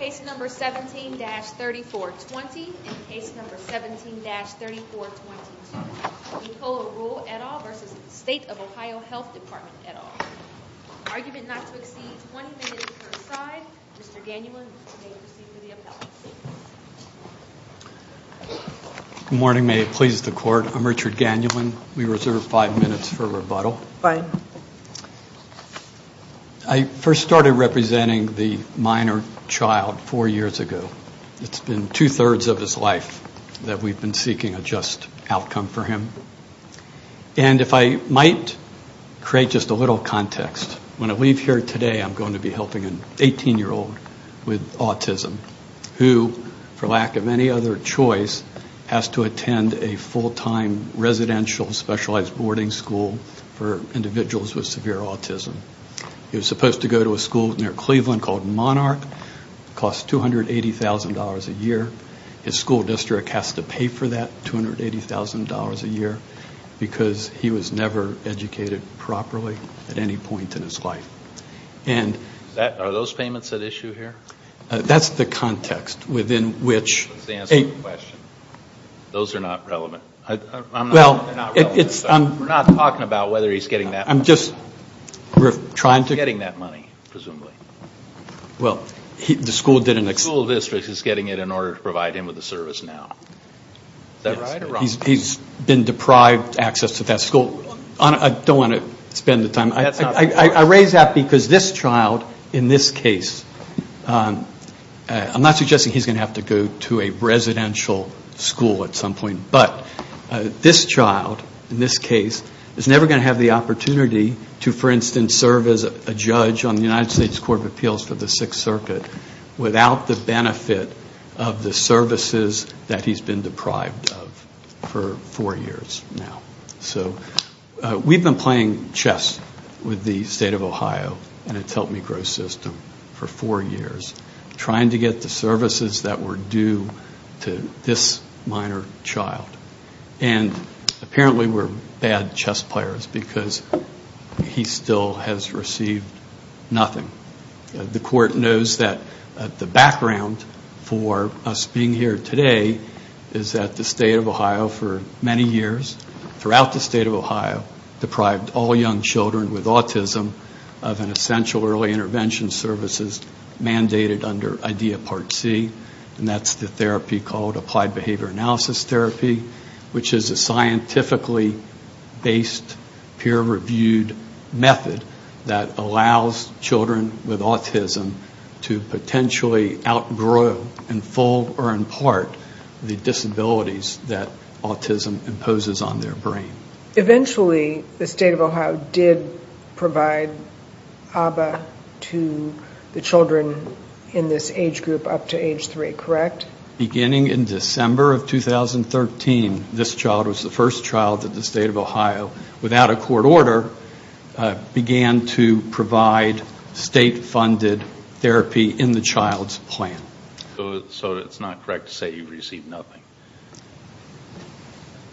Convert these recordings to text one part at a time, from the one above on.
Case number 17-3420 and case number 17-3422. Nicola Ruhl et al. v. State of OH Health Department et al. Argument not to exceed 20 minutes per side. Mr. Gannulin, you may proceed with the appellate statements. Good morning. May it please the Court. I'm Richard Gannulin. We reserve five minutes for rebuttal. Fine. I first started representing the minor child four years ago. It's been two-thirds of his life that we've been seeking a just outcome for him. And if I might create just a little context, when I leave here today I'm going to be helping an 18-year-old with autism who, for lack of any other choice, has to attend a full-time residential specialized boarding school for individuals with severe autism. He was supposed to go to a school near Cleveland called Monarch. It costs $280,000 a year. His school district has to pay for that $280,000 a year because he was never educated properly at any point in his life. Are those payments at issue here? That's the context within which... That's the answer to the question. Those are not relevant. Well, it's... We're not talking about whether he's getting that money. I'm just trying to... He's getting that money, presumably. Well, the school didn't... The school district is getting it in order to provide him with a service now. Is that right or wrong? He's been deprived access to that school. I don't want to spend the time. I raise that because this child, in this case, I'm not suggesting he's going to have to go to a residential school at some point, but this child, in this case, is never going to have the opportunity to, for instance, serve as a judge on the United States Court of Appeals for the Sixth Circuit without the benefit of the services that he's been deprived of for four years now. So we've been playing chess with the State of Ohio and its Help Me Grow system for four years, trying to get the services that were due to this minor child. And apparently we're bad chess players because he still has received nothing. The court knows that the background for us being here today is that the State of Ohio, for many years throughout the State of Ohio, deprived all young children with autism of an essential early intervention services mandated under IDEA Part C, and that's the therapy called Applied Behavior Analysis Therapy, which is a scientifically-based, peer-reviewed method that allows children with autism to potentially outgrow, in full or in part, the disabilities that autism imposes on their brain. Eventually, the State of Ohio did provide ABBA to the children in this age group up to age three, correct? Beginning in December of 2013, this child was the first child that the State of Ohio, without a court order, began to provide state-funded therapy in the child's plan. So it's not correct to say you've received nothing?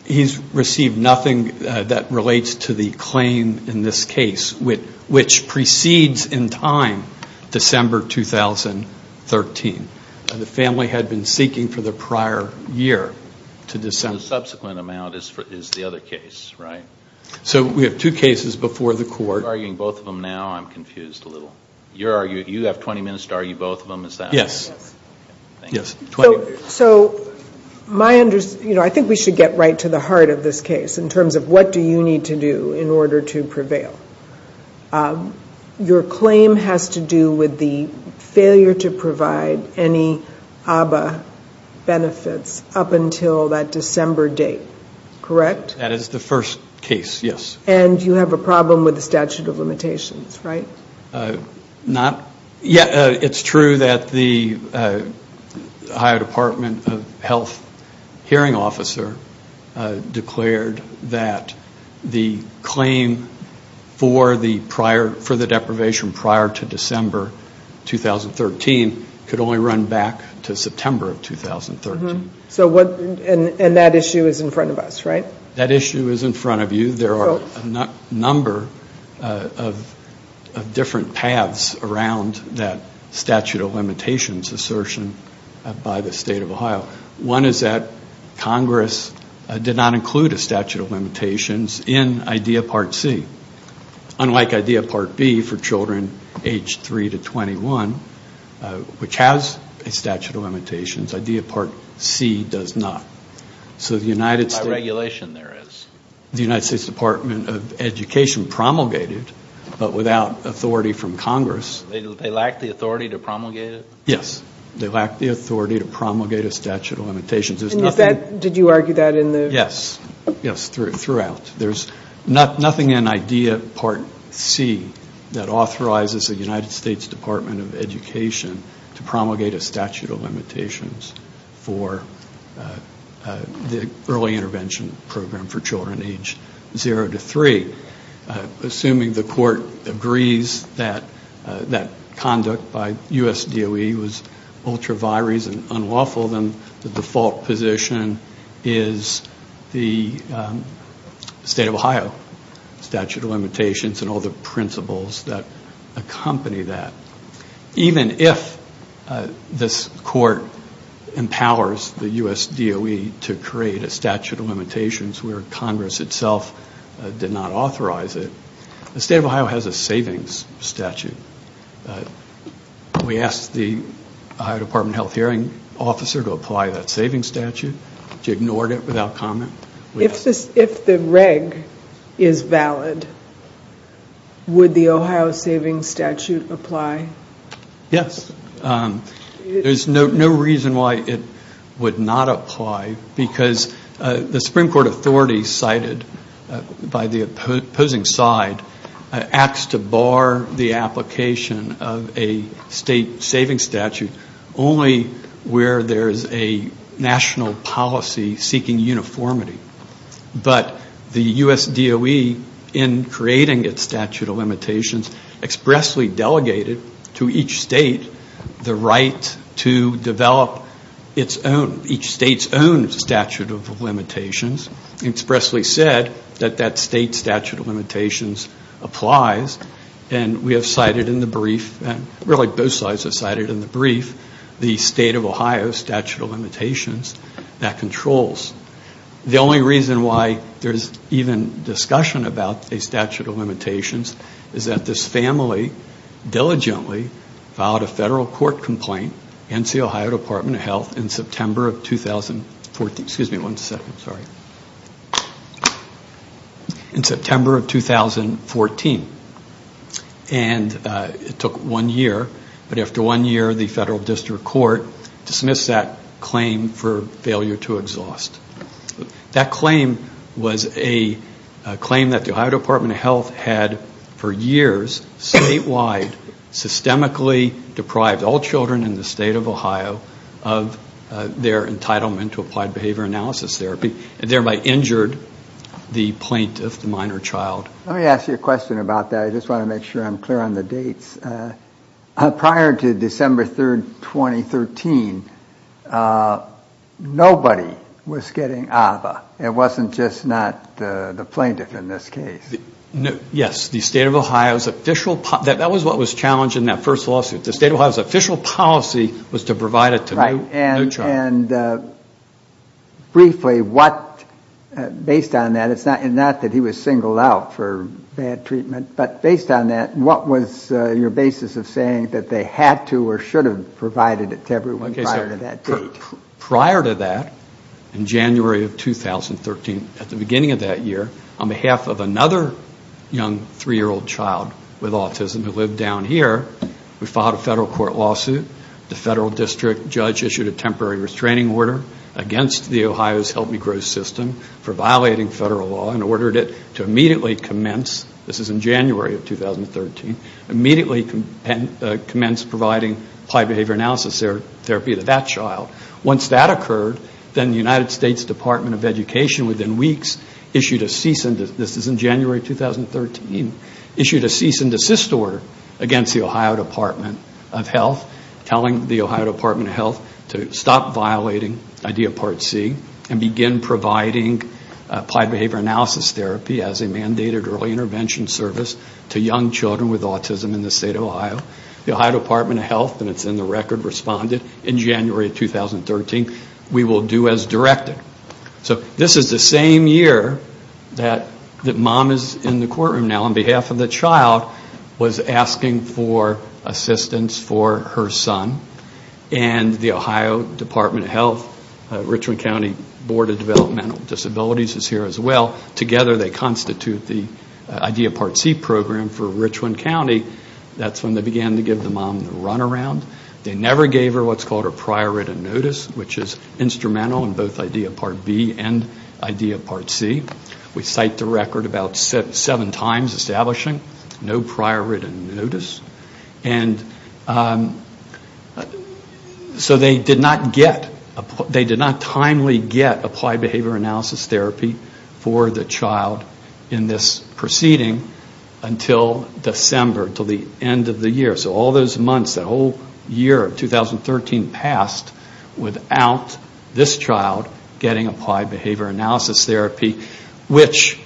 He's received nothing that relates to the claim in this case, which precedes in time December 2013. The family had been seeking for the prior year. The subsequent amount is the other case, right? So we have two cases before the court. You're arguing both of them now? I'm confused a little. You have 20 minutes to argue both of them? Yes. So I think we should get right to the heart of this case in terms of what do you need to do in order to prevail? Your claim has to do with the failure to provide any ABBA benefits up until that December date, correct? That is the first case, yes. And you have a problem with the statute of limitations, right? It's true that the Ohio Department of Health hearing officer declared that the claim for the deprivation prior to December 2013 could only run back to September of 2013. And that issue is in front of us, right? That issue is in front of you. There are a number of different paths around that statute of limitations assertion by the state of Ohio. One is that Congress did not include a statute of limitations in IDEA Part C. Unlike IDEA Part B for children age 3 to 21, which has a statute of limitations, IDEA Part C does not. By regulation there is. The United States Department of Education promulgated, but without authority from Congress. They lacked the authority to promulgate it? Yes. They lacked the authority to promulgate a statute of limitations. Did you argue that in the? Yes. Yes, throughout. There's nothing in IDEA Part C that authorizes the United States Department of Education to promulgate a statute of limitations for the early intervention program for children age 0 to 3. Assuming the court agrees that that conduct by USDOE was ultra vires and unlawful, then the default position is the state of Ohio statute of limitations and all the principles that accompany that. Even if this court empowers the USDOE to create a statute of limitations where Congress itself did not authorize it, the state of Ohio has a savings statute. We asked the Ohio Department of Health hearing officer to apply that savings statute. She ignored it without comment. If the reg is valid, would the Ohio savings statute apply? Yes. There's no reason why it would not apply because the Supreme Court authority cited by the opposing side acts to bar the application of a state savings statute only where there's a national policy seeking uniformity. But the USDOE, in creating its statute of limitations, expressly delegated to each state the right to develop each state's own statute of limitations and expressly said that that state statute of limitations applies. And we have cited in the brief, really both sides have cited in the brief, the state of Ohio statute of limitations that controls. The only reason why there's even discussion about a statute of limitations is that this family diligently filed a federal court complaint against the Ohio Department of Health in September of 2014. And it took one year, but after one year the federal district court dismissed that claim for failure to exhaust. That claim was a claim that the Ohio Department of Health had for years statewide systemically deprived all children in the state of Ohio of their entitlement to applied behavior analysis therapy. It thereby injured the plaintiff, the minor child. Let me ask you a question about that. I just want to make sure I'm clear on the dates. Prior to December 3, 2013, nobody was getting AVA. It wasn't just not the plaintiff in this case. Yes. The state of Ohio's official, that was what was challenged in that first lawsuit. The state of Ohio's official policy was to provide it to no child. And briefly, what, based on that, it's not that he was singled out for bad treatment, but based on that, what was your basis of saying that they had to or should have provided it to everyone prior to that date? Prior to that, in January of 2013, at the beginning of that year, on behalf of another young three-year-old child with autism who lived down here, we filed a federal court lawsuit. The federal district judge issued a temporary restraining order against the Ohio's Help Me Grow system for violating federal law and ordered it to immediately commence, this is in January of 2013, immediately commence providing applied behavior analysis therapy to that child. Once that occurred, then the United States Department of Education, within weeks, issued a cease and desist, this is in January of 2013, issued a cease and desist order against the Ohio Department of Health, telling the Ohio Department of Health to stop violating idea part C and begin providing applied behavior analysis therapy as a mandated early intervention service to young children with autism in the state of Ohio. The Ohio Department of Health, and it's in the record, responded in January of 2013, we will do as directed. So this is the same year that mom is in the courtroom now on behalf of the child, was asking for assistance for her son. And the Ohio Department of Health, Richland County Board of Developmental Disabilities is here as well. Together they constitute the idea part C program for Richland County. That's when they began to give the mom the runaround. They never gave her what's called a prior written notice, which is instrumental in both idea part B and idea part C. We cite the record about seven times establishing no prior written notice. And so they did not get, they did not timely get applied behavior analysis therapy for the child in this proceeding until December, until the end of the year. So all those months, the whole year of 2013 passed without this child getting applied behavior analysis therapy, which...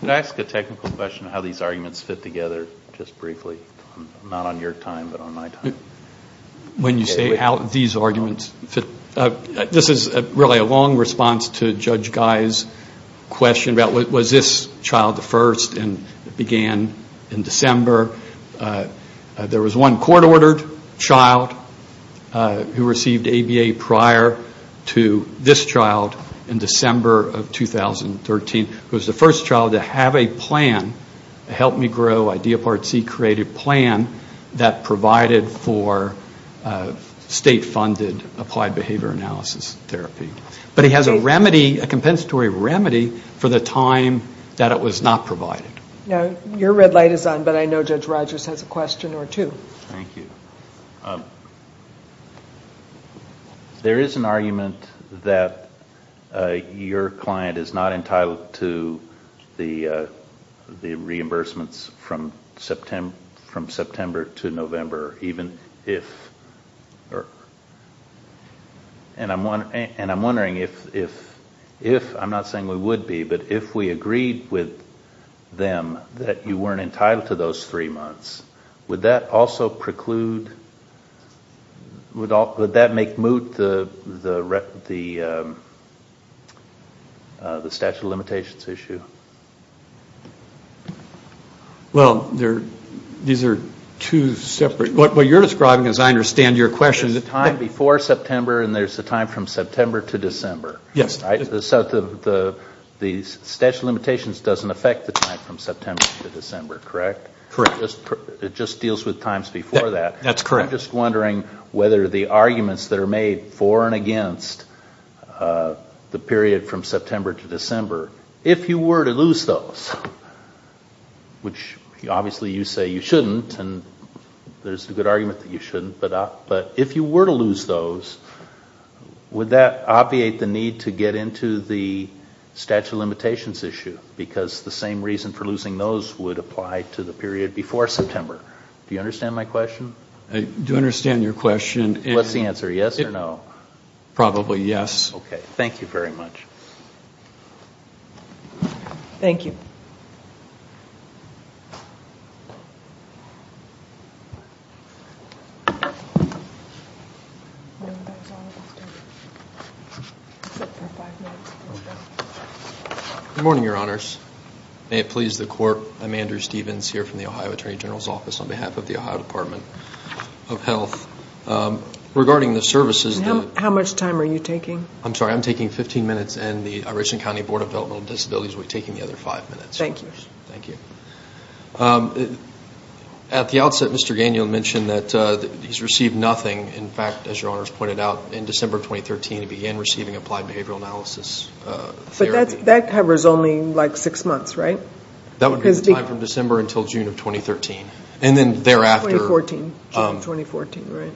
Can I ask a technical question on how these arguments fit together just briefly? Not on your time, but on my time. When you say how these arguments fit, this is really a long response to Judge Guy's question about was this child the first and began in December. There was one court ordered child who received ABA prior to this child in December of 2013, who was the first child to have a plan, a help me grow idea part C created plan, that provided for state funded applied behavior analysis therapy. But he has a remedy, a compensatory remedy for the time that it was not provided. Your red light is on, but I know Judge Rogers has a question or two. There is an argument that your client is not entitled to the reimbursements from September to November, even if... And I'm wondering if, I'm not saying we would be, but if we agreed with them that you weren't entitled to those three months, would that also preclude, would that make moot the statute of limitations issue? Well, these are two separate... What you're describing, as I understand your question... There's a time before September and there's a time from September to December. The statute of limitations doesn't affect the time from September to December, correct? It just deals with times before that. I'm just wondering whether the arguments that are made for and against the period from September to December, if you were to lose those, which obviously you say you shouldn't, and there's a good argument that you shouldn't, but if you were to lose those, would that obviate the need to get into the statute of limitations issue? Because the same reason for losing those would apply to the period before September. Do you understand my question? I do understand your question. What's the answer, yes or no? Probably yes. Okay, thank you very much. Good morning, Your Honors. May it please the Court, I'm Andrew Stevens here from the Ohio Attorney General's Office on behalf of the Ohio Department of Health. Regarding the services... How much time are you taking? I'm sorry, I'm taking 15 minutes and the Arizona County Board of Developmental Disabilities will be taking the other five minutes. Thank you. At the outset, Mr. Daniel mentioned that he's received nothing. In fact, as Your Honors pointed out, in December 2013 he began receiving applied behavioral analysis therapy. But that covers only like six months, right? That would be the time from December until June of 2013, and then thereafter... June of 2014, right.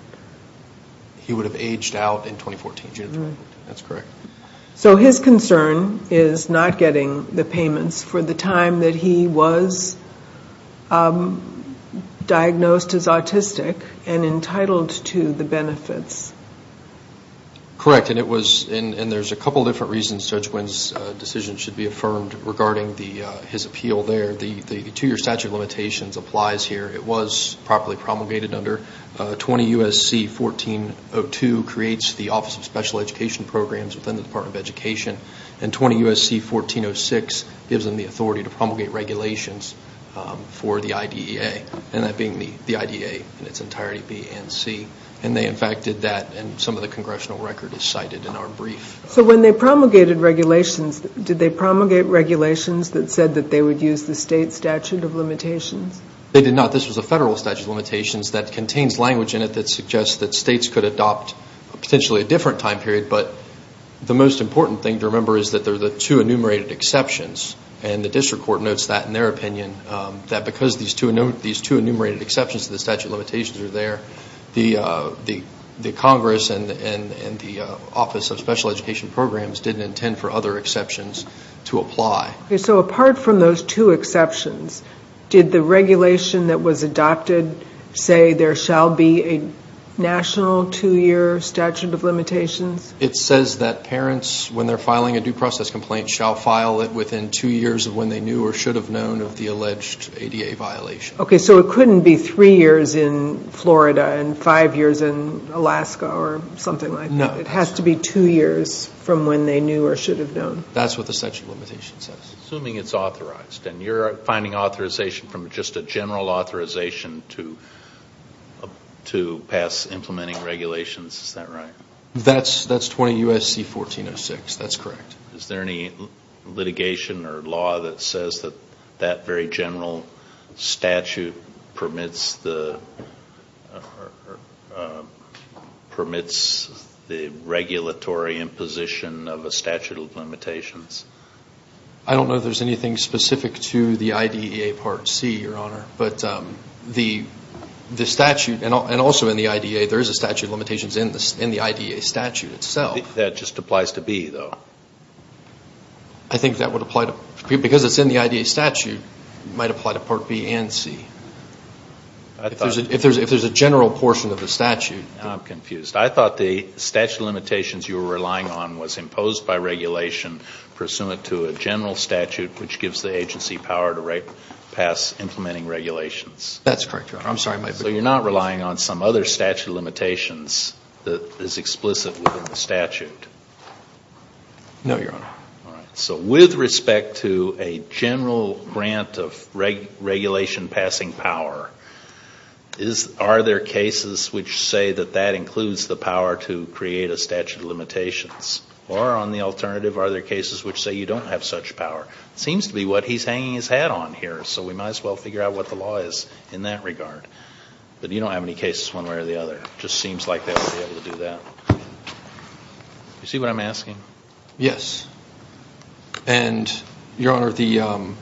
He would have aged out in 2014, June of 2013. That's correct. So his concern is not getting the payments for the time that he was diagnosed as autistic and entitled to the benefits. Correct, and there's a couple different reasons Judge Wynn's decision should be affirmed regarding his appeal there. The two-year statute of limitations applies here. It was properly promulgated under 20 U.S.C. 1402, creates the Office of Special Education Programs within the Department of Education. And 20 U.S.C. 1406 gives them the authority to promulgate regulations for the IDEA, and that being the IDEA in its entirety, B and C. And they in fact did that, and some of the congressional record is cited in our brief. So when they promulgated regulations, did they promulgate regulations that said that they would use the state statute of limitations? They did not. This was a federal statute of limitations that contains language in it that suggests that states could adopt potentially a different time period. But the most important thing to remember is that there are the two enumerated exceptions, and the district court notes that in their opinion, that because these two enumerated exceptions to the statute of limitations are there, the Congress and the Office of Special Education Programs didn't intend for other exceptions to apply. So apart from those two exceptions, did the regulation that was adopted say there shall be a national two-year statute of limitations? It says that parents, when they're filing a due process complaint, shall file it within two years of when they knew or should have known of the alleged ADA violation. Okay, so it couldn't be three years in Florida and five years in Alaska or something like that. No, it has to be two years from when they knew or should have known. That's what the statute of limitations says. Assuming it's authorized, and you're finding authorization from just a general authorization to pass implementing regulations, is that right? That's 20 U.S.C. 1406, that's correct. Is there any litigation or law that says that that very general statute permits the, the regulatory imposition of a statute of limitations? I don't know if there's anything specific to the IDEA Part C, Your Honor, but the statute, and also in the IDEA, there is a statute of limitations in the IDEA statute itself. That just applies to B, though. I think that would apply to, because it's in the IDEA statute, it might apply to Part B and C. If there's a general portion of the statute. I'm confused. I thought the statute of limitations you were relying on was imposed by regulation pursuant to a general statute, which gives the agency power to pass implementing regulations. That's correct, Your Honor. I'm sorry. So you're not relying on some other statute of limitations that is explicit within the statute? No, Your Honor. All right. So with respect to a general grant of regulation passing power, are there cases which say that that includes the power to create a statute of limitations? Or on the alternative, are there cases which say you don't have such power? It seems to be what he's hanging his hat on here, so we might as well figure out what the law is in that regard. But you don't have any cases one way or the other. It just seems like they wouldn't be able to do that. Do you see what I'm asking? Yes. And, Your Honor, the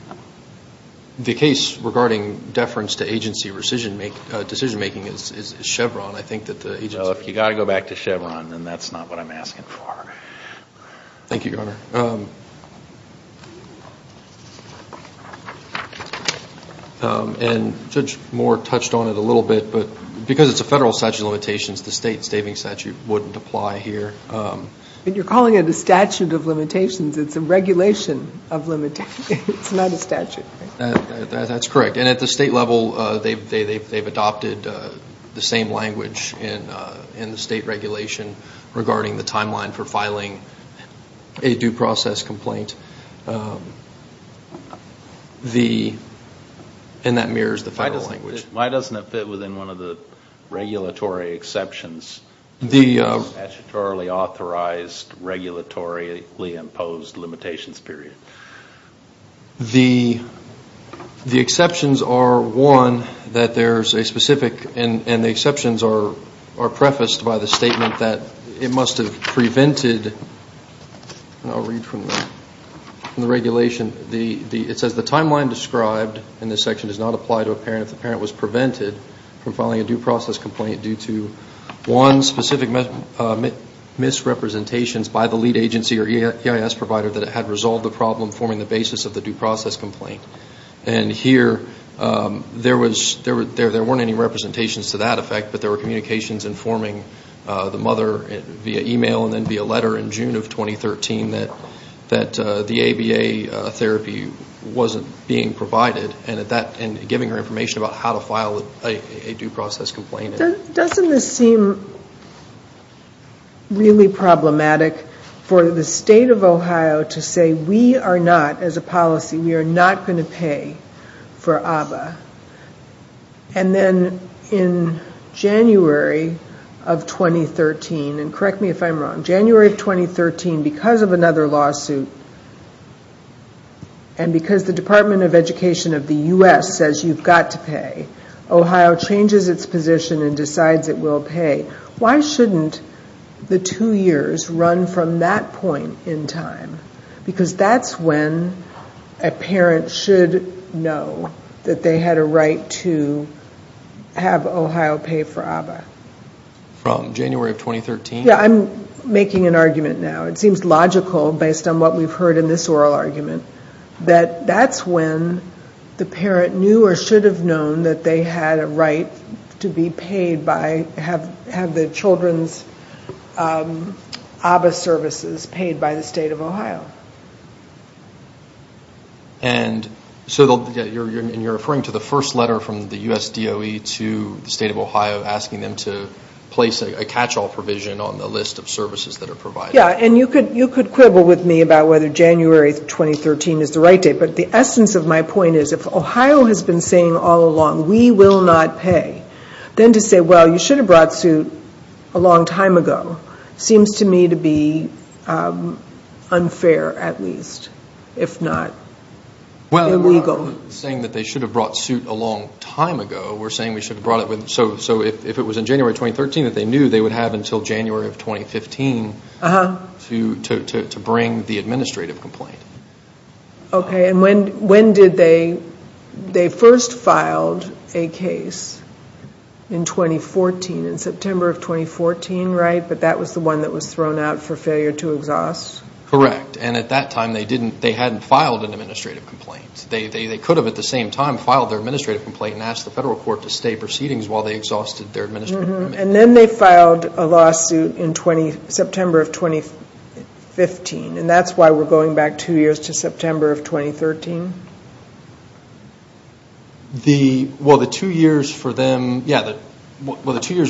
case regarding deference to agency decision-making is Chevron. If you've got to go back to Chevron, then that's not what I'm asking for. Thank you, Your Honor. And Judge Moore touched on it a little bit, but because it's a federal statute of limitations, the state stating statute wouldn't apply here. But you're calling it a statute of limitations. It's a regulation of limitations. It's not a statute. That's correct. And at the state level, they've adopted the same language in the state regulation regarding the timeline for filing a due process complaint. And that mirrors the federal language. Why doesn't it fit within one of the regulatory exceptions, the statutorily authorized, regulatorily imposed limitations period? The exceptions are, one, that there's a specific, and the exceptions are prefaced by the statement that it must have prevented, and I'll read from the regulation, it says the timeline described in this section does not apply to a parent if the parent was prevented from filing a due process complaint due to one, specific misrepresentations by the lead agency or EIS provider that it had resolved the problem forming the basis of the due process complaint. And here there was, there weren't any representations to that effect, but there were communications informing the mother via email and then via letter in June of 2013 that the ABA therapy wasn't being provided, and giving her information about how to file a due process complaint. Doesn't this seem really problematic for the state of Ohio to say we are not, as a policy, we are not going to pay for ABA? And then in January of 2013, and correct me if I'm wrong, January of 2013, because of another lawsuit, and because the Department of Education of the U.S. says you've got to pay, Ohio changes its position and decides it will pay. Why shouldn't the two years run from that point in time? Because that's when a parent should know that they had a right to have Ohio pay for ABA. Yeah, I'm making an argument now. It seems logical based on what we've heard in this oral argument that that's when the parent knew or should have known that they had a right to be paid by, have the children's ABA services paid by the state of Ohio. And so you're referring to the first letter from the U.S. DOE to the state of Ohio, asking them to place a catch-all provision on the list of services that are provided. Yeah, and you could quibble with me about whether January 2013 is the right date, but the essence of my point is if Ohio has been saying all along we will not pay, then to say, well, you should have brought suit a long time ago, seems to me to be unfair at least, if not illegal. Well, we're not saying that they should have brought suit a long time ago. We're saying we should have brought it when, so if it was in January 2013 that they knew, they would have until January of 2015 to bring the administrative complaint. Okay, and when did they, they first filed a case in 2014, in September of 2014, right? But that was the one that was thrown out for failure to exhaust? Correct, and at that time they hadn't filed an administrative complaint. They could have at the same time filed their administrative complaint and asked the federal court to stay proceedings while they exhausted their administrative commitment. And then they filed a lawsuit in September of 2015, and that's why we're going back two years to September of 2013? Well, the two years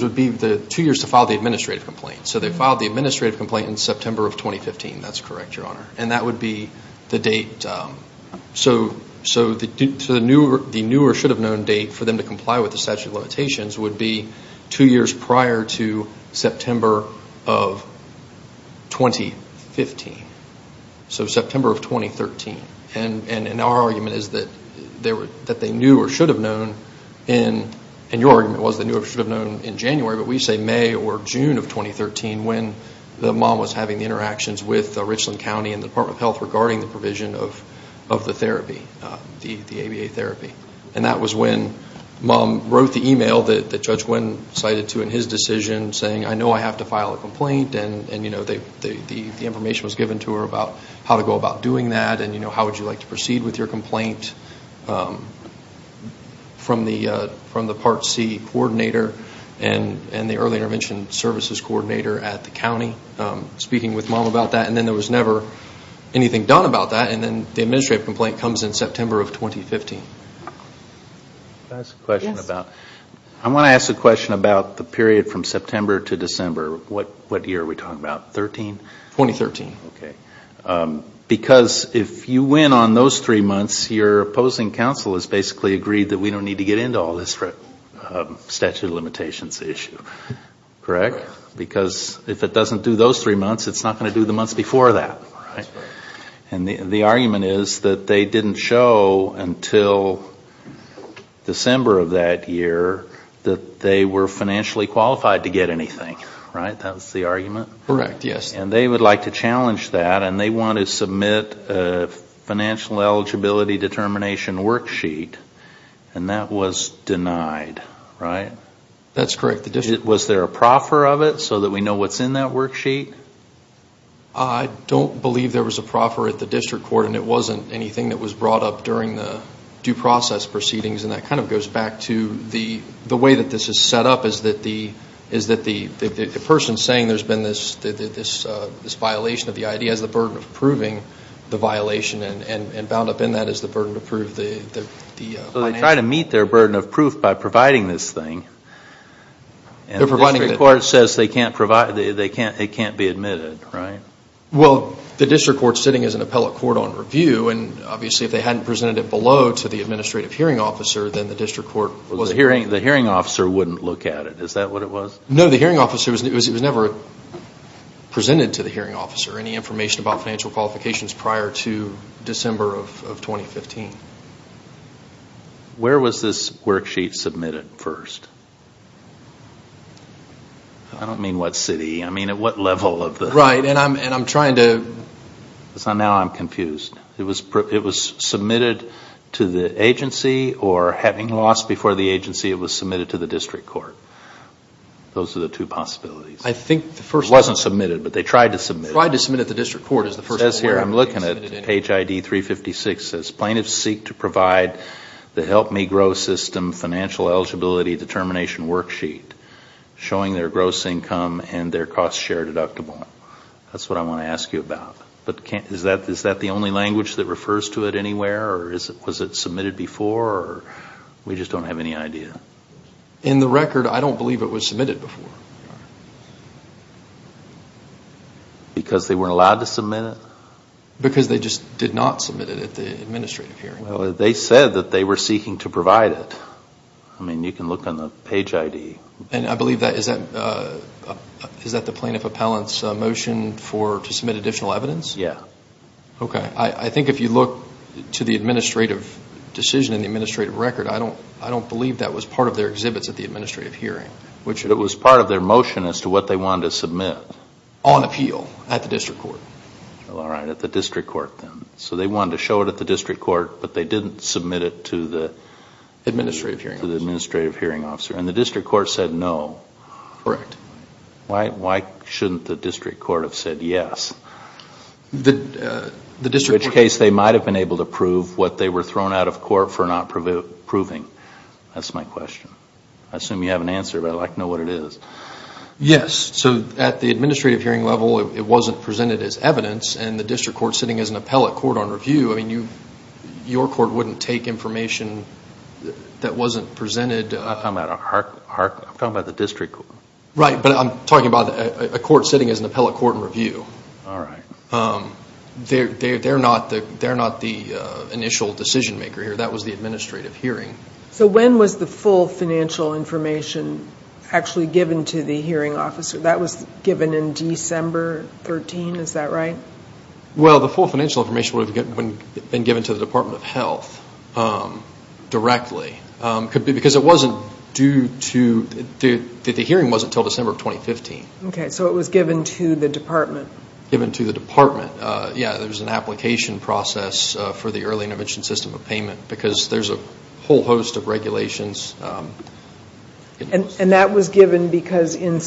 would be the two years to file the administrative complaint. So they filed the administrative complaint in September of 2015, that's correct, Your Honor. And that would be the date, so the new or should have known date for them to comply with the statute of limitations would be two years prior to September of 2015. So September of 2013, and our argument is that they knew or should have known in, and your argument was they knew or should have known in January, but we say May or June of 2013 when the mom was having the interactions with Richland County and the Department of Health regarding the provision of the therapy, the ABA therapy. And that was when mom wrote the email that Judge Nguyen cited to in his decision saying, I know I have to file a complaint, and the information was given to her about how to go about doing that, and how would you like to proceed with your complaint from the Part C coordinator and the early intervention services coordinator at the county speaking with mom about that. And then there was never anything done about that, and then the administrative complaint comes in September of 2015. I want to ask a question about the period from September to December. What year are we talking about, 2013? Because if you win on those three months, your opposing counsel has basically agreed that we don't need to get into all this statute of limitations issue, correct? Because if it doesn't do those three months, it's not going to do the months before that, right? And the argument is that they didn't show until December of that year that they were financially qualified to get anything, right? That was the argument? Correct, yes. And they would like to challenge that, and they want to submit a financial eligibility determination worksheet, and that was denied, right? That's correct. Was there a proffer of it so that we know what's in that worksheet? I don't believe there was a proffer at the district court, and it wasn't anything that was brought up during the due process proceedings, and that kind of goes back to the way that this is set up, is that the person saying there's been this violation of the ID has the burden of proving the violation, and bound up in that is the burden to prove the financial. So they try to meet their burden of proof by providing this thing, and the district court says it can't be admitted, right? Well, the district court's sitting as an appellate court on review, and obviously if they hadn't presented it below to the administrative hearing officer, then the district court was. The hearing officer wouldn't look at it, is that what it was? No, the hearing officer, it was never presented to the hearing officer, any information about financial qualifications prior to December of 2015. Where was this worksheet submitted first? I don't mean what city, I mean at what level of the... Right, and I'm trying to... Now I'm confused. It was submitted to the agency, or having lost before the agency, it was submitted to the district court. Those are the two possibilities. It wasn't submitted, but they tried to submit it. It says here, I'm looking at page ID 356, it says, plaintiffs seek to provide the Help Me Grow system financial eligibility determination worksheet, showing their gross income and their cost share deductible. That's what I want to ask you about. Is that the only language that refers to it anywhere, or was it submitted before? We just don't have any idea. In the record, I don't believe it was submitted before. Because they weren't allowed to submit it? Because they just did not submit it at the administrative hearing. They said that they were seeking to provide it. I mean, you can look on the page ID. Is that the plaintiff appellant's motion to submit additional evidence? Yeah. I think if you look to the administrative decision in the administrative record, I don't believe that was part of their exhibits at the administrative hearing. It was part of their motion as to what they wanted to submit? On appeal, at the district court. All right, at the district court then. So they wanted to show it at the district court, but they didn't submit it to the administrative hearing officer. And the district court said no? Correct. Why shouldn't the district court have said yes? In which case, they might have been able to prove what they were thrown out of court for not proving. That's my question. I assume you have an answer, but I'd like to know what it is. Yes. So at the administrative hearing level, it wasn't presented as evidence. And the district court sitting as an appellate court on review, I mean, your court wouldn't take information that wasn't presented. I'm talking about the district court. Right, but I'm talking about a court sitting as an appellate court on review. They're not the initial decision maker here. That was the administrative hearing. So when was the full financial information actually given to the hearing officer? That was given in December 13, is that right? Well, the full financial information would have been given to the Department of Health directly. Because it wasn't due to, the hearing wasn't until December of 2015. Okay, so it was given to the department. Given to the department. Yeah, there was an application process for the early intervention system of payment. Because there's a whole host of regulations. And that was given because the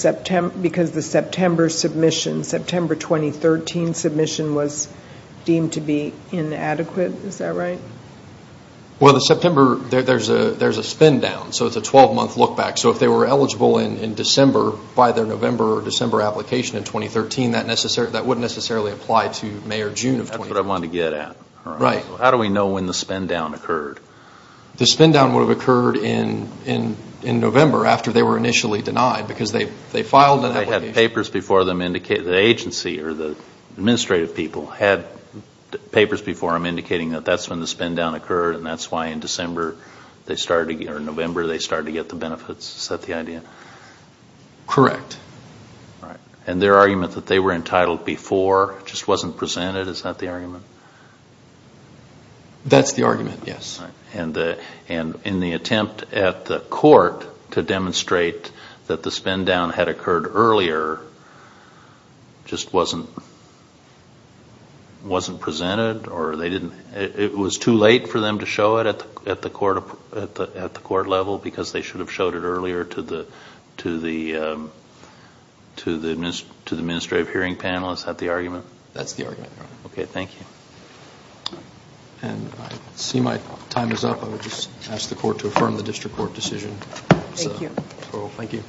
September 2013 submission was deemed to be inadequate, is that right? Well, the September, there's a spend down. So it's a 12-month look back. So if they were eligible in December, by their November or December application in 2013, that wouldn't necessarily apply to May or June of 2013. That's what I wanted to get at. So how do we know when the spend down occurred? The spend down would have occurred in November after they were initially denied. Because they filed an application. The agency or the administrative people had papers before them indicating that that's when the spend down occurred. And that's why in November they started to get the benefits. Is that the idea? Correct. And their argument that they were entitled before just wasn't presented, is that the argument? That's the argument, yes. And in the attempt at the court to demonstrate that the spend down had occurred earlier, just wasn't presented? It was too late for them to show it at the court level? Because they should have showed it earlier to the administrative hearing panel? Is that the argument? That's the argument, Your Honor. Okay, thank you. And I see my time is up. I would just ask the court to affirm the district court decision. Thank you.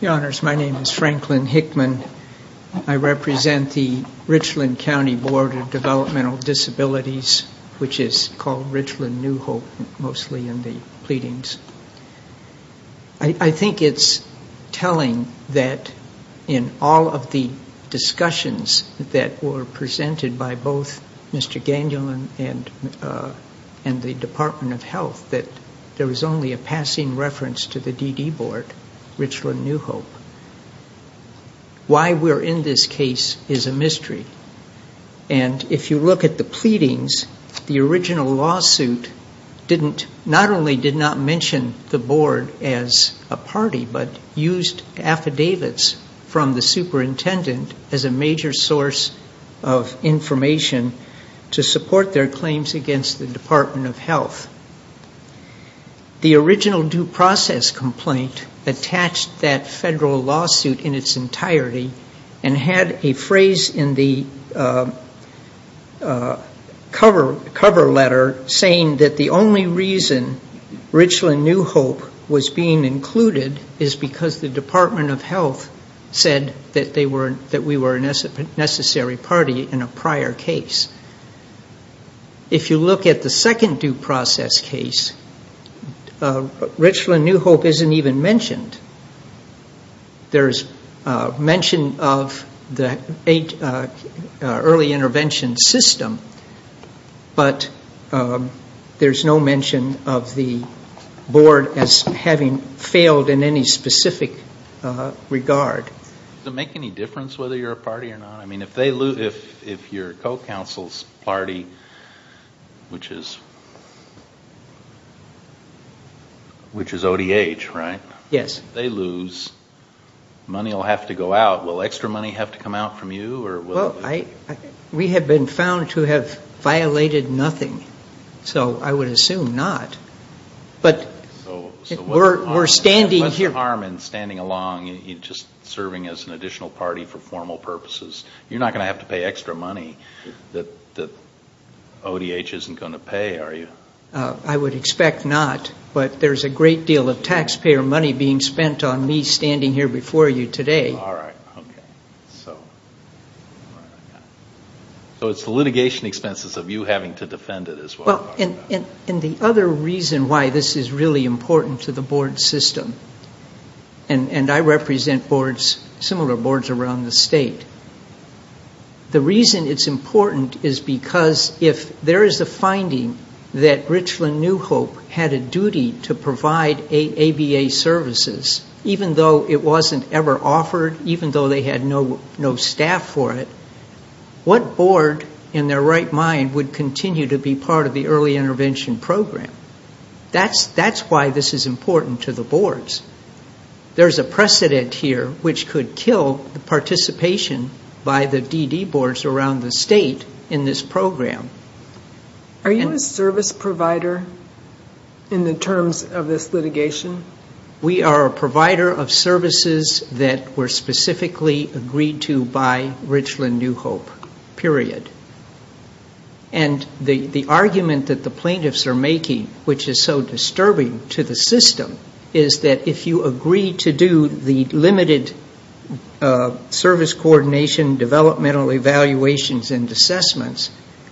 Your Honors, my name is Franklin Hickman. I represent the Richland County Board of Developmental Disabilities, which is called Richland New Hope mostly in the pleadings. I think it's telling that in all of the discussions that were presented by both Mr. Gangelin and the Department of Health, that there was only a passing reference to the DD board, Richland New Hope. Why we're in this case is a mystery. And if you look at the pleadings, the original lawsuit not only did not mention the board as a party, but used affidavits from the superintendent as a major source of information to support their claims against the Department of Health. The original due process complaint attached that federal lawsuit in its entirety, and had a phrase in the cover letter saying that the only reason Richland New Hope was being included is because the Department of Health said that we were a necessary party in a prior case. If you look at the second due process case, Richland New Hope isn't even mentioned. There's mention of the early intervention system, but there's no mention of the board as having failed in any specific regard. Does it make any difference whether you're a party or not? If you're co-council's party, which is ODH, right? If they lose, money will have to go out. Will extra money have to come out from you? We have been found to have violated nothing, so I would assume not. What's the harm in standing along and just serving as an additional party for formal purposes? You're not going to have to pay extra money that ODH isn't going to pay, are you? I would expect not, but there's a great deal of taxpayer money being spent on me standing here before you today. So it's the litigation expenses of you having to defend it as well. The other reason why this is really important to the board system, and I represent similar boards around the state, the reason it's important is because if there is a finding that Richland New Hope had a duty to provide ABA services, even though it wasn't ever offered, even though they had no staff for it, what board in their right mind would continue to be part of the early intervention program? That's why this is important to the boards. There's a precedent here which could kill the participation by the DD boards around the state in this program. Are you a service provider in the terms of this litigation? We are a provider of services that were specifically agreed to by Richland New Hope, period. And the argument that the plaintiffs are making, which is so disturbing to the system, is that if you agree to do the limited service coordination, developmental evaluations and assessments,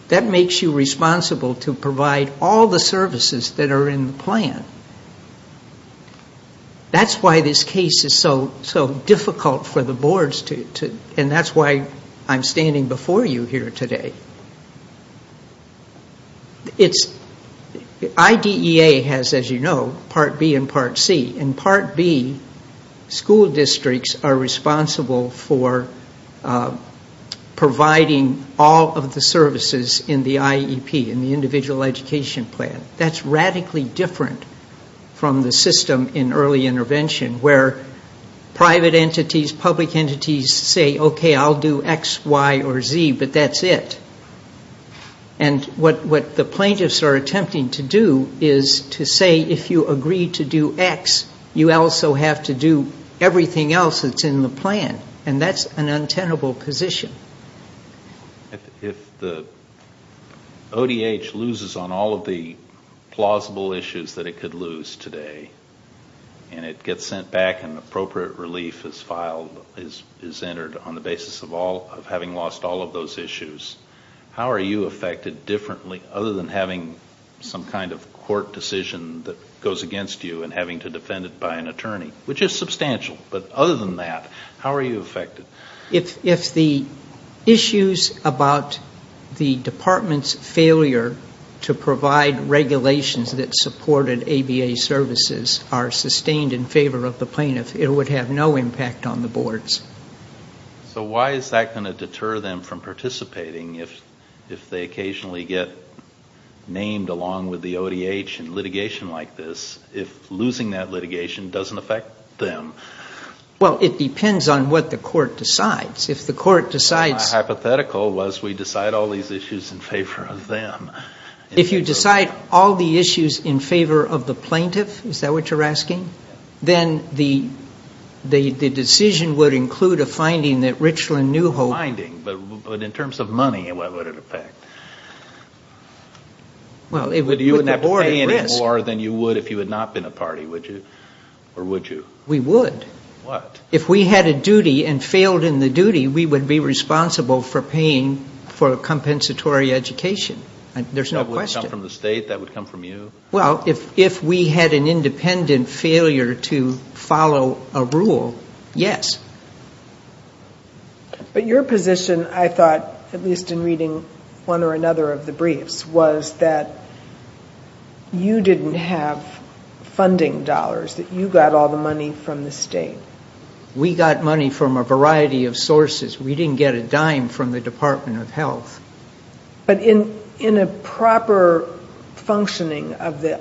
that makes you responsible to provide all the services that are in the plan. That's why this case is so difficult for the boards, and that's why I'm standing before you here today. IDEA has, as you know, Part B and Part C. In Part B, school districts are responsible for providing all of the services in the IEP, in the individual education plan. That's radically different from the system in early intervention, where private entities, public entities say, okay, I'll do X, Y, or Z, but that's it. And what the plaintiffs are attempting to do is to say, if you agree to do X, you also have to do everything else that's in the plan, and that's an untenable position. If the ODH loses on all of the plausible issues that it could lose today, and it gets sent back and appropriate relief is filed, is entered on the basis of having lost all of those issues, how are you affected differently other than having some kind of court decision that goes against you and having to defend it by an attorney, which is substantial. But other than that, how are you affected? If the issues about the department's failure to provide regulations that supported ABA services are sustained in favor of the plaintiff, it would have no impact on the boards. So why is that going to deter them from participating if they occasionally get named along with the ODH in litigation like this, if losing that litigation doesn't affect them? Well, it depends on what the court decides. If you decide all the issues in favor of the plaintiff, is that what you're asking? Then the decision would include a finding that Richland knew... A finding, but in terms of money, what would it affect? You wouldn't have to pay any more than you would if you had not been a party, would you? We would. If we had a duty and failed in the duty, we would be responsible for paying for a compensatory education. That would come from the state, that would come from you? Well, if we had an independent failure to follow a rule, yes. But your position, I thought, at least in reading one or another of the briefs, was that you didn't have funding dollars, that you got all the money from the state. We got money from a variety of sources. We didn't get a dime from the Department of Health. But in a proper functioning of the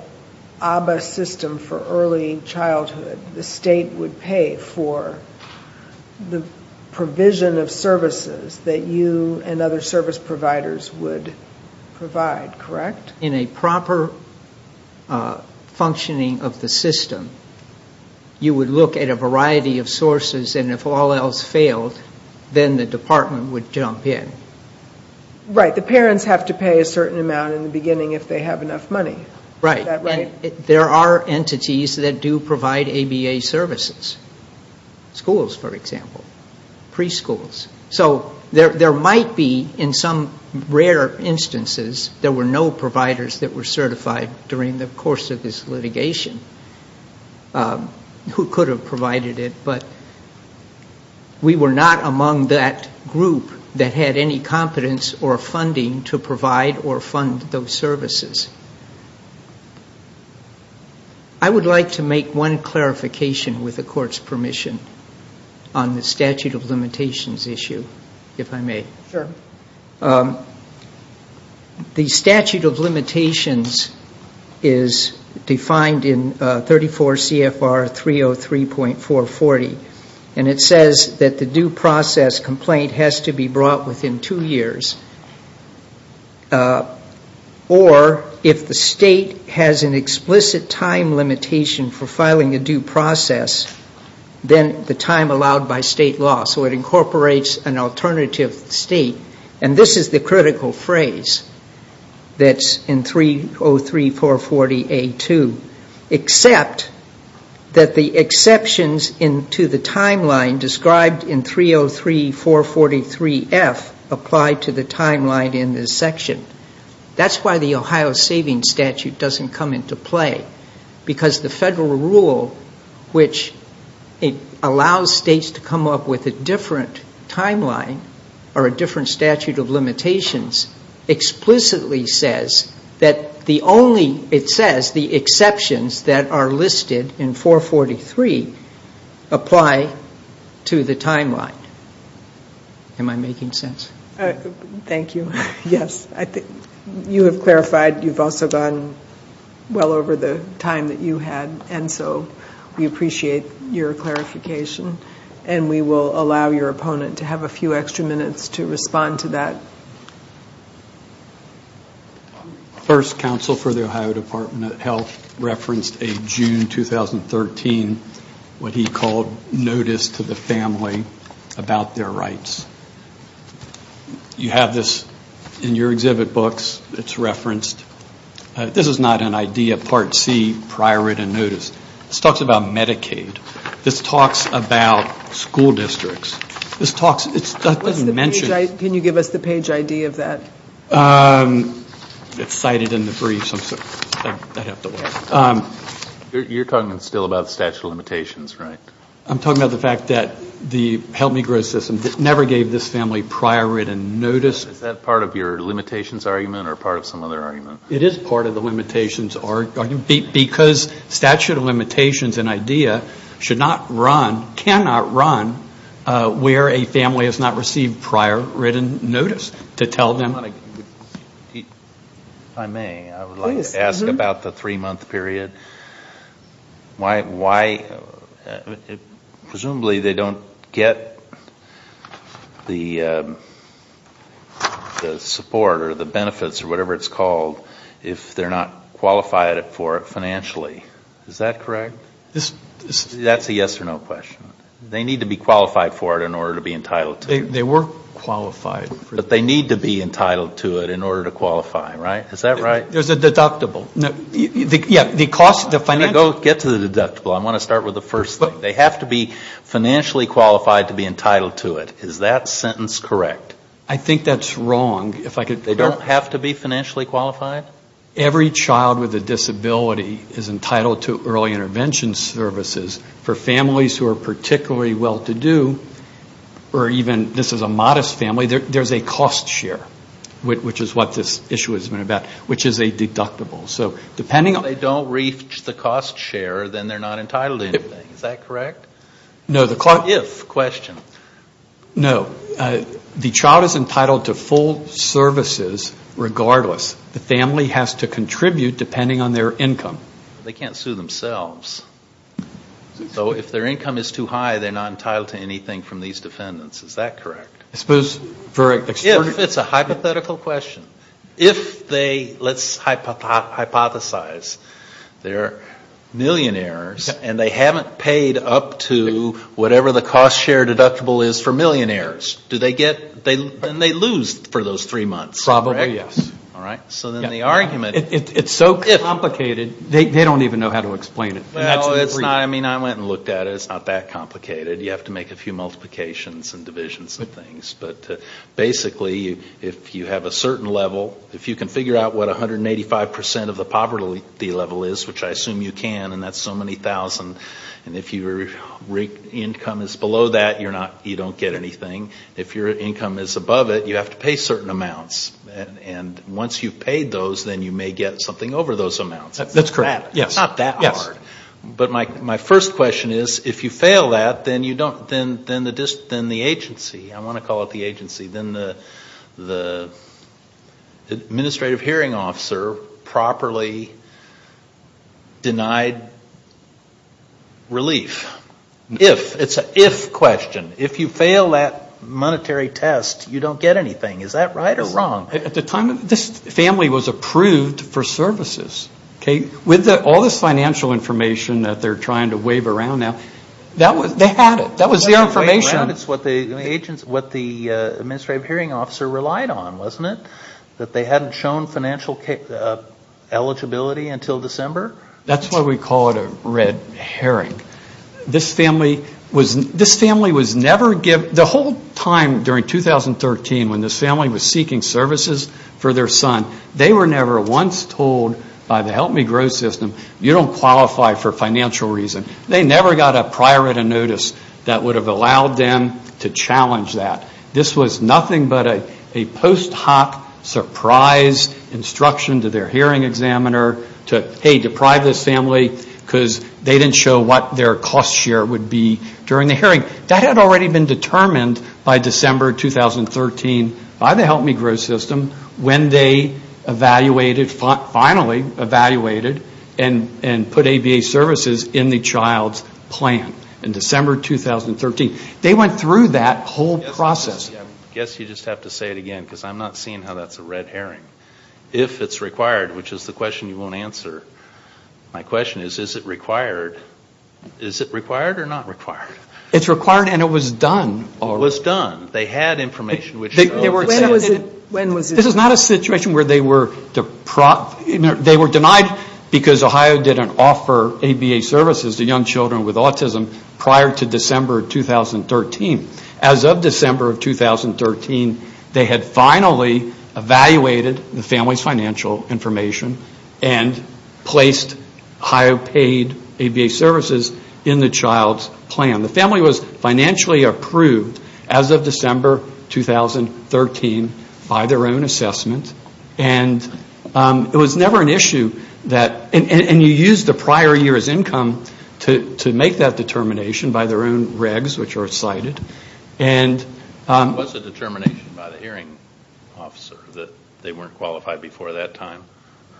ABBA system for early childhood, the state would pay for the provision of services that you and other service providers would provide. In a proper functioning of the system, you would look at a variety of sources, and if all else failed, then the department would jump in. There are entities that do provide ABA services. Schools, for example. Preschools. So there might be, in some rare instances, there were no providers that were certified during the course of this litigation. Who could have provided it, but we were not among that group that had any competence or funding to provide or fund those services. I would like to make one clarification, with the Court's permission, on the statute of limitations issue. If I may. The statute of limitations is defined in 34 CFR 303.440. And it says that the due process complaint has to be brought within two years. Or, if the state has an explicit time limitation for filing a due process, then the time allowed by state law. So it incorporates an alternative state. And this is the critical phrase that's in 303.440A2. Except that the exceptions to the timeline described in 303.443F apply to the timeline in this section. That's why the Ohio Savings Statute doesn't come into play. Because the federal rule, which allows states to come up with a different timeline, or a different statute of limitations, explicitly says that the only, it says, the exceptions that are listed in 443 apply to the timeline. Am I making sense? Thank you. You have clarified, you've also gone well over the time that you had, and so we appreciate your clarification. And we will allow your opponent to have a few extra minutes to respond to that. First, counsel for the Ohio Department of Health referenced a June 2013, what he called, notice to the family about their rights. You have this in your exhibit books, it's referenced. This is not an idea, part C, prior written notice. This talks about Medicaid. This talks about school districts. Can you give us the page ID of that? You're talking still about statute of limitations, right? I'm talking about the fact that the Help Me Grow system never gave this family prior written notice. Is that part of your limitations argument, or part of some other argument? It is part of the limitations argument, because statute of limitations, an idea, should not run, cannot run, where a family has not received prior written notice, to tell them. If I may, I would like to ask about the three month period. Presumably they don't get the support, or the benefits, or whatever it's called, if they're not qualified for it financially, is that correct? That's a yes or no question. They need to be qualified for it in order to be entitled to it. But they need to be entitled to it in order to qualify, right? Is that right? There's a deductible. They have to be financially qualified to be entitled to it. Is that sentence correct? I think that's wrong. Every child with a disability is entitled to early intervention services. For families who are particularly well-to-do, or even this is a modest family, there's a cost share, which is what this issue has been about. If they don't reach the cost share, then they're not entitled to anything. Is that correct? No. The child is entitled to full services regardless. The family has to contribute depending on their income. They can't sue themselves. So if their income is too high, they're not entitled to anything from these defendants. Is that correct? It's a hypothetical question. Let's hypothesize. They're millionaires, and they haven't paid up to whatever the cost share deductible is for millionaires. Then they lose for those three months. It's so complicated, they don't even know how to explain it. I went and looked at it. It's not that complicated. Basically, if you have a certain level, if you can figure out what 185% of the poverty level is, which I assume you can, and that's so many thousands, and if your income is below that, you don't get anything. If your income is above it, you have to pay certain amounts. Once you've paid those, then you may get something over those amounts. It's not that hard. But my first question is, if you fail that, then the agency, I want to call it the agency, then the administrative hearing officer properly denied relief. It's an if question. If you fail that monetary test, you don't get anything. Is that right or wrong? At the time, this family was approved for services. With all this financial information that they're trying to wave around now, they had it. That was their information. That's what the administrative hearing officer relied on, wasn't it, that they hadn't shown financial eligibility until December? That's why we call it a red herring. This family was never given, the whole time during 2013, when this family was seeking services for their son, they were never once told by the Help Me Grow system, you don't qualify for financial reason. They never got a prior written notice that would have allowed them to challenge that. This was nothing but a post hoc surprise instruction to their hearing examiner to, hey, deprive this family, because they didn't show what they could do. That had already been determined by December 2013, by the Help Me Grow system, when they evaluated, finally evaluated, and put ABA services in the child's plan in December 2013. They went through that whole process. I guess you just have to say it again, because I'm not seeing how that's a red herring. If it's required, which is the question you won't answer, my question is, is it required? Is it required or not required? It's required and it was done. It was done. They had information. This is not a situation where they were denied because Ohio didn't offer ABA services to young children with autism prior to December 2013. As of December 2013, they had finally evaluated the family's financial information and placed Ohio paid ABA services in the child's plan. The family was financially approved as of December 2013 by their own assessment, and it was never an issue that, and you used the prior year's income to make that determination by their own regs, which are cited. It was a determination by the hearing officer that they weren't qualified before that time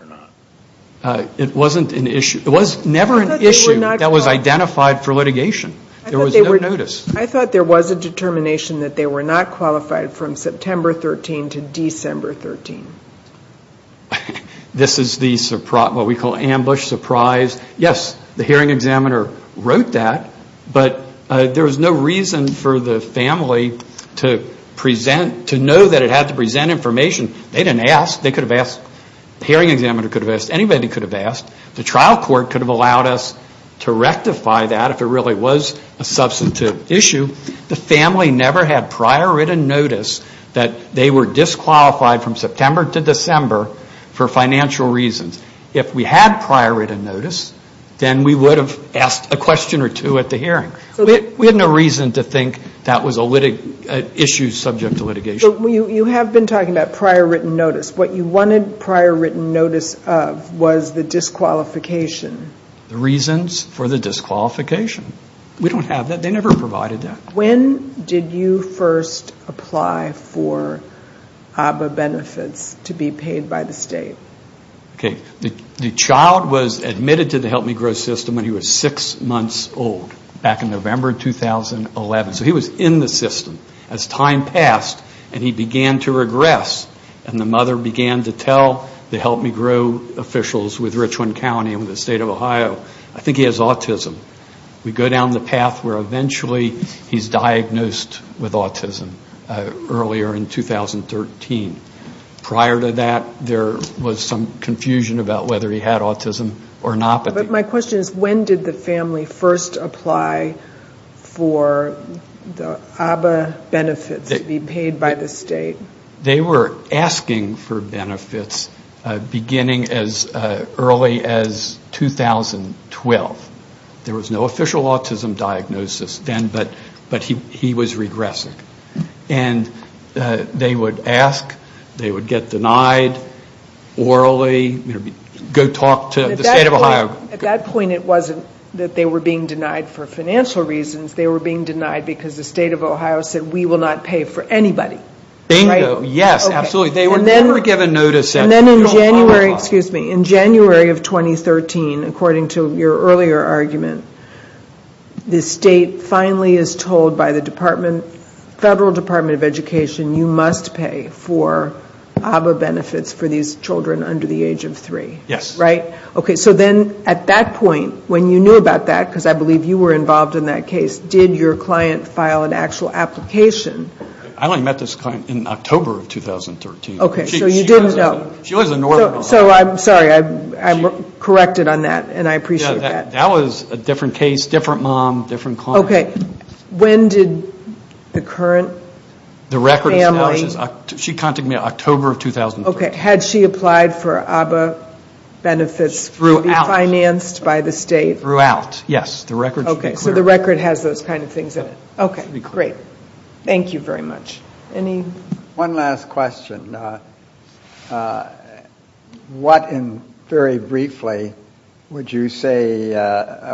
or not? It wasn't an issue, it was never an issue that was identified for litigation. There was no notice. I thought there was a determination that they were not qualified from September 13 to December 13. This is what we call ambush, surprise. Yes, the hearing examiner wrote that, but there was no reason for the family to present, to know that it had to present information. They didn't ask, the hearing examiner could have asked, anybody could have asked. The trial court could have allowed us to rectify that if it really was a substantive issue. The family never had prior written notice that they were disqualified from September to December for financial reasons. If we had prior written notice, then we would have asked a question or two at the hearing. We had no reason to think that was an issue subject to litigation. You have been talking about prior written notice. What you wanted prior written notice of was the disqualification. The reasons for the disqualification. We don't have that, they never provided that. When did you first apply for ABA benefits to be paid by the state? Okay, the child was admitted to the Help Me Grow system when he was six months old, back in November 2011. So he was in the system as time passed and he began to regress. And the mother began to tell the Help Me Grow officials with Richland County and the state of Ohio, I think he has autism. We go down the path where eventually he's diagnosed with autism earlier in 2013. Prior to that, there was some confusion about whether he had autism or not. But my question is when did the family first apply for the ABA benefits to be paid by the state? They were asking for benefits beginning as early as 2012. There was no official autism diagnosis then, but he was regressing. And they would ask, they would get denied orally, go talk to the state of Ohio. At that point it wasn't that they were being denied for financial reasons, they were being denied because the state of Ohio said we will not pay for anybody. Bingo, yes, absolutely. And then in January of 2013, according to your earlier argument, the state finally is told by the Department of Health and Human Services, federal Department of Education, you must pay for ABA benefits for these children under the age of three. Yes. So then at that point, when you knew about that, because I believe you were involved in that case, did your client file an actual application? I only met this client in October of 2013. Okay, so you didn't know. That was a different case, different mom, different client. She contacted me in October of 2013. Okay, had she applied for ABA benefits to be financed by the state? Throughout, yes, the record should be clear. Okay, so the record has those kind of things in it. Okay, great, thank you very much. One last question, what in, very briefly, would you say,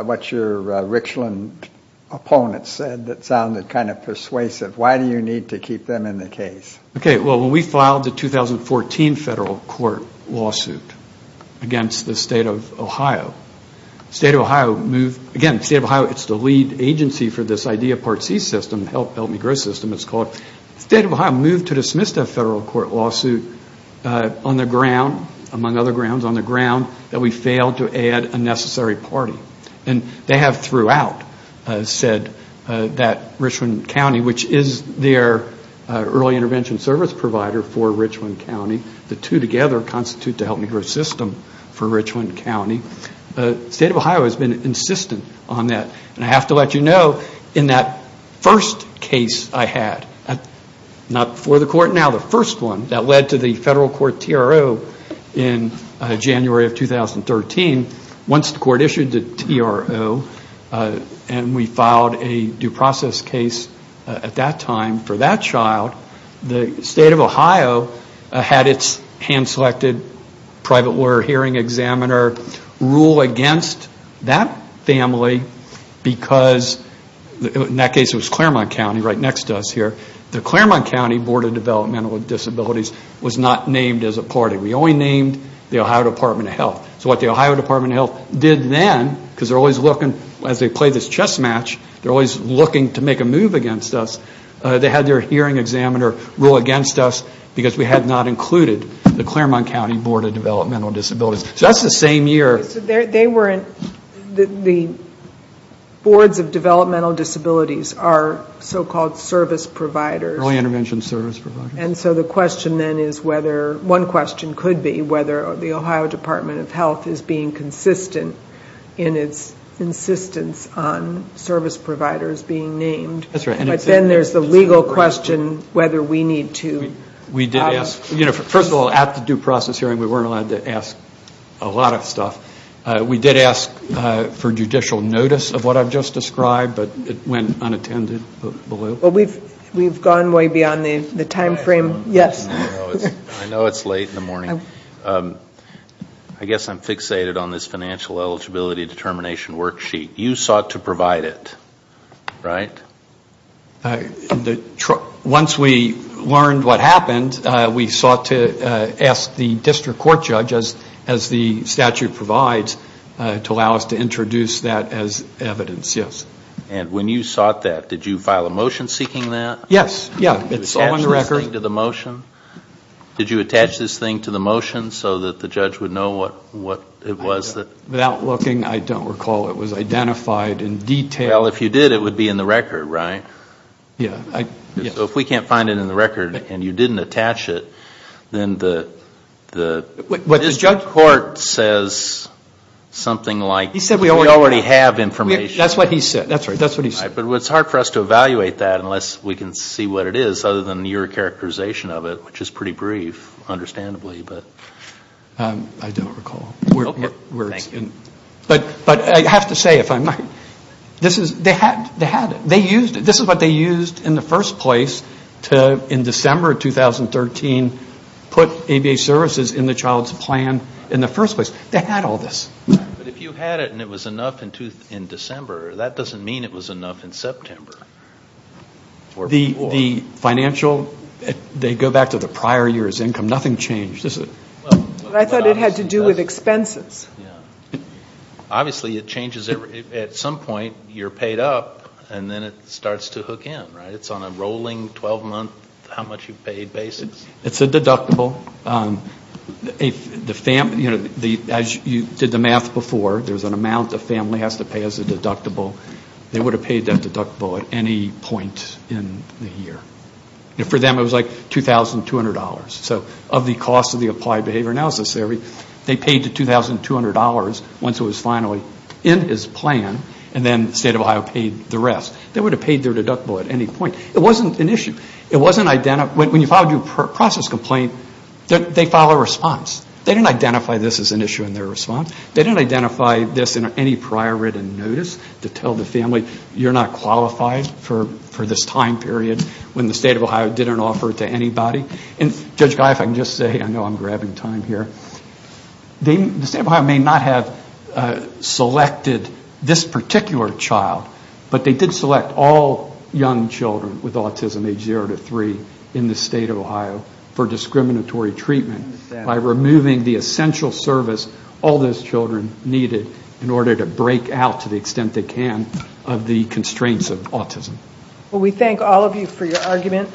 what your Richland opponent said that sounded kind of persuasive, why do you need to keep them in the case? Okay, well, when we filed the 2014 federal court lawsuit against the state of Ohio, the state of Ohio was not a federal court. Again, the state of Ohio, it's the lead agency for this idea, Part C system, Help Me Grow system, it's called. The state of Ohio moved to dismiss that federal court lawsuit on the ground, among other grounds, on the ground that we failed to add a necessary party. And they have throughout said that Richland County, which is their early intervention service provider for Richland County, the two together constitute the Help Me Grow system for Richland County. The state of Ohio has been insistent on that, and I have to let you know, in that first case I had, not before the court, now the first one, that led to the federal court TRO in January of 2013. Once the court issued the TRO, and we filed a due process case at that time for that child, the state of Ohio had its hand-selected private lawyer hearing examiner. They had their hearing examiner rule against that family because, in that case it was Claremont County right next to us here, the Claremont County Board of Developmental Disabilities was not named as a party. We only named the Ohio Department of Health. So what the Ohio Department of Health did then, because they're always looking, as they play this chess match, they're always looking to make a move against us, they had their hearing examiner rule against us because we had not included the Claremont County Board of Developmental Disabilities. So that's the same year. The boards of developmental disabilities are so-called service providers. And so the question then is whether, one question could be, whether the Ohio Department of Health is being consistent in its insistence on service providers being named. But then there's the legal question whether we need to... First of all, at the due process hearing we weren't allowed to ask a lot of stuff. We did ask for judicial notice of what I've just described, but it went unattended. We've gone way beyond the time frame. I guess I'm fixated on this financial eligibility determination worksheet. You sought to provide it, right? Once we learned what happened, we sought to ask the district court judge, as the statute provides, to allow us to introduce that as evidence, yes. And when you sought that, did you file a motion seeking that? Did you attach this thing to the motion so that the judge would know what it was? Without looking, I don't recall it was identified in detail. Well, if you did, it would be in the record, right? So if we can't find it in the record and you didn't attach it, then the... The judge court says something like, we already have information. That's what he said. But it's hard for us to evaluate that unless we can see what it is, other than your characterization of it, which is pretty brief, understandably. I don't recall. But I have to say, if I might, this is what they used in the first place to, in December of 2013, put ABA services in the child's plan in the first place. They had all this. But if you had it and it was enough in December, that doesn't mean it was enough in September. The financial, they go back to the prior year's income, nothing changed, does it? I thought it had to do with expenses. Obviously it changes, at some point you're paid up and then it starts to hook in, right? It's on a rolling 12-month, how-much-you-pay basis? It's a deductible. As you did the math before, there's an amount a family has to pay as a deductible. They would have paid that deductible at any point in the year. For them it was like $2,200. So of the cost of the Applied Behavior Analysis Theory, they paid the $2,200 once it was finally in his plan, and then the State of Ohio paid the rest. They would have paid their deductible at any point. It wasn't an issue. When you file a due process complaint, they file a response. They didn't identify this as an issue in their response. They didn't identify this in any prior written notice to tell the family, you're not qualified for this time period when the State of Ohio didn't offer it to anybody. And Judge Guy, if I can just say, I know I'm grabbing time here, the State of Ohio may not have selected this particular child, but they did select all young children with autism, age zero to three, in the State of Ohio for discriminatory treatment by removing this particular child. Removing the essential service all those children needed in order to break out, to the extent they can, of the constraints of autism. We thank all of you for your argument.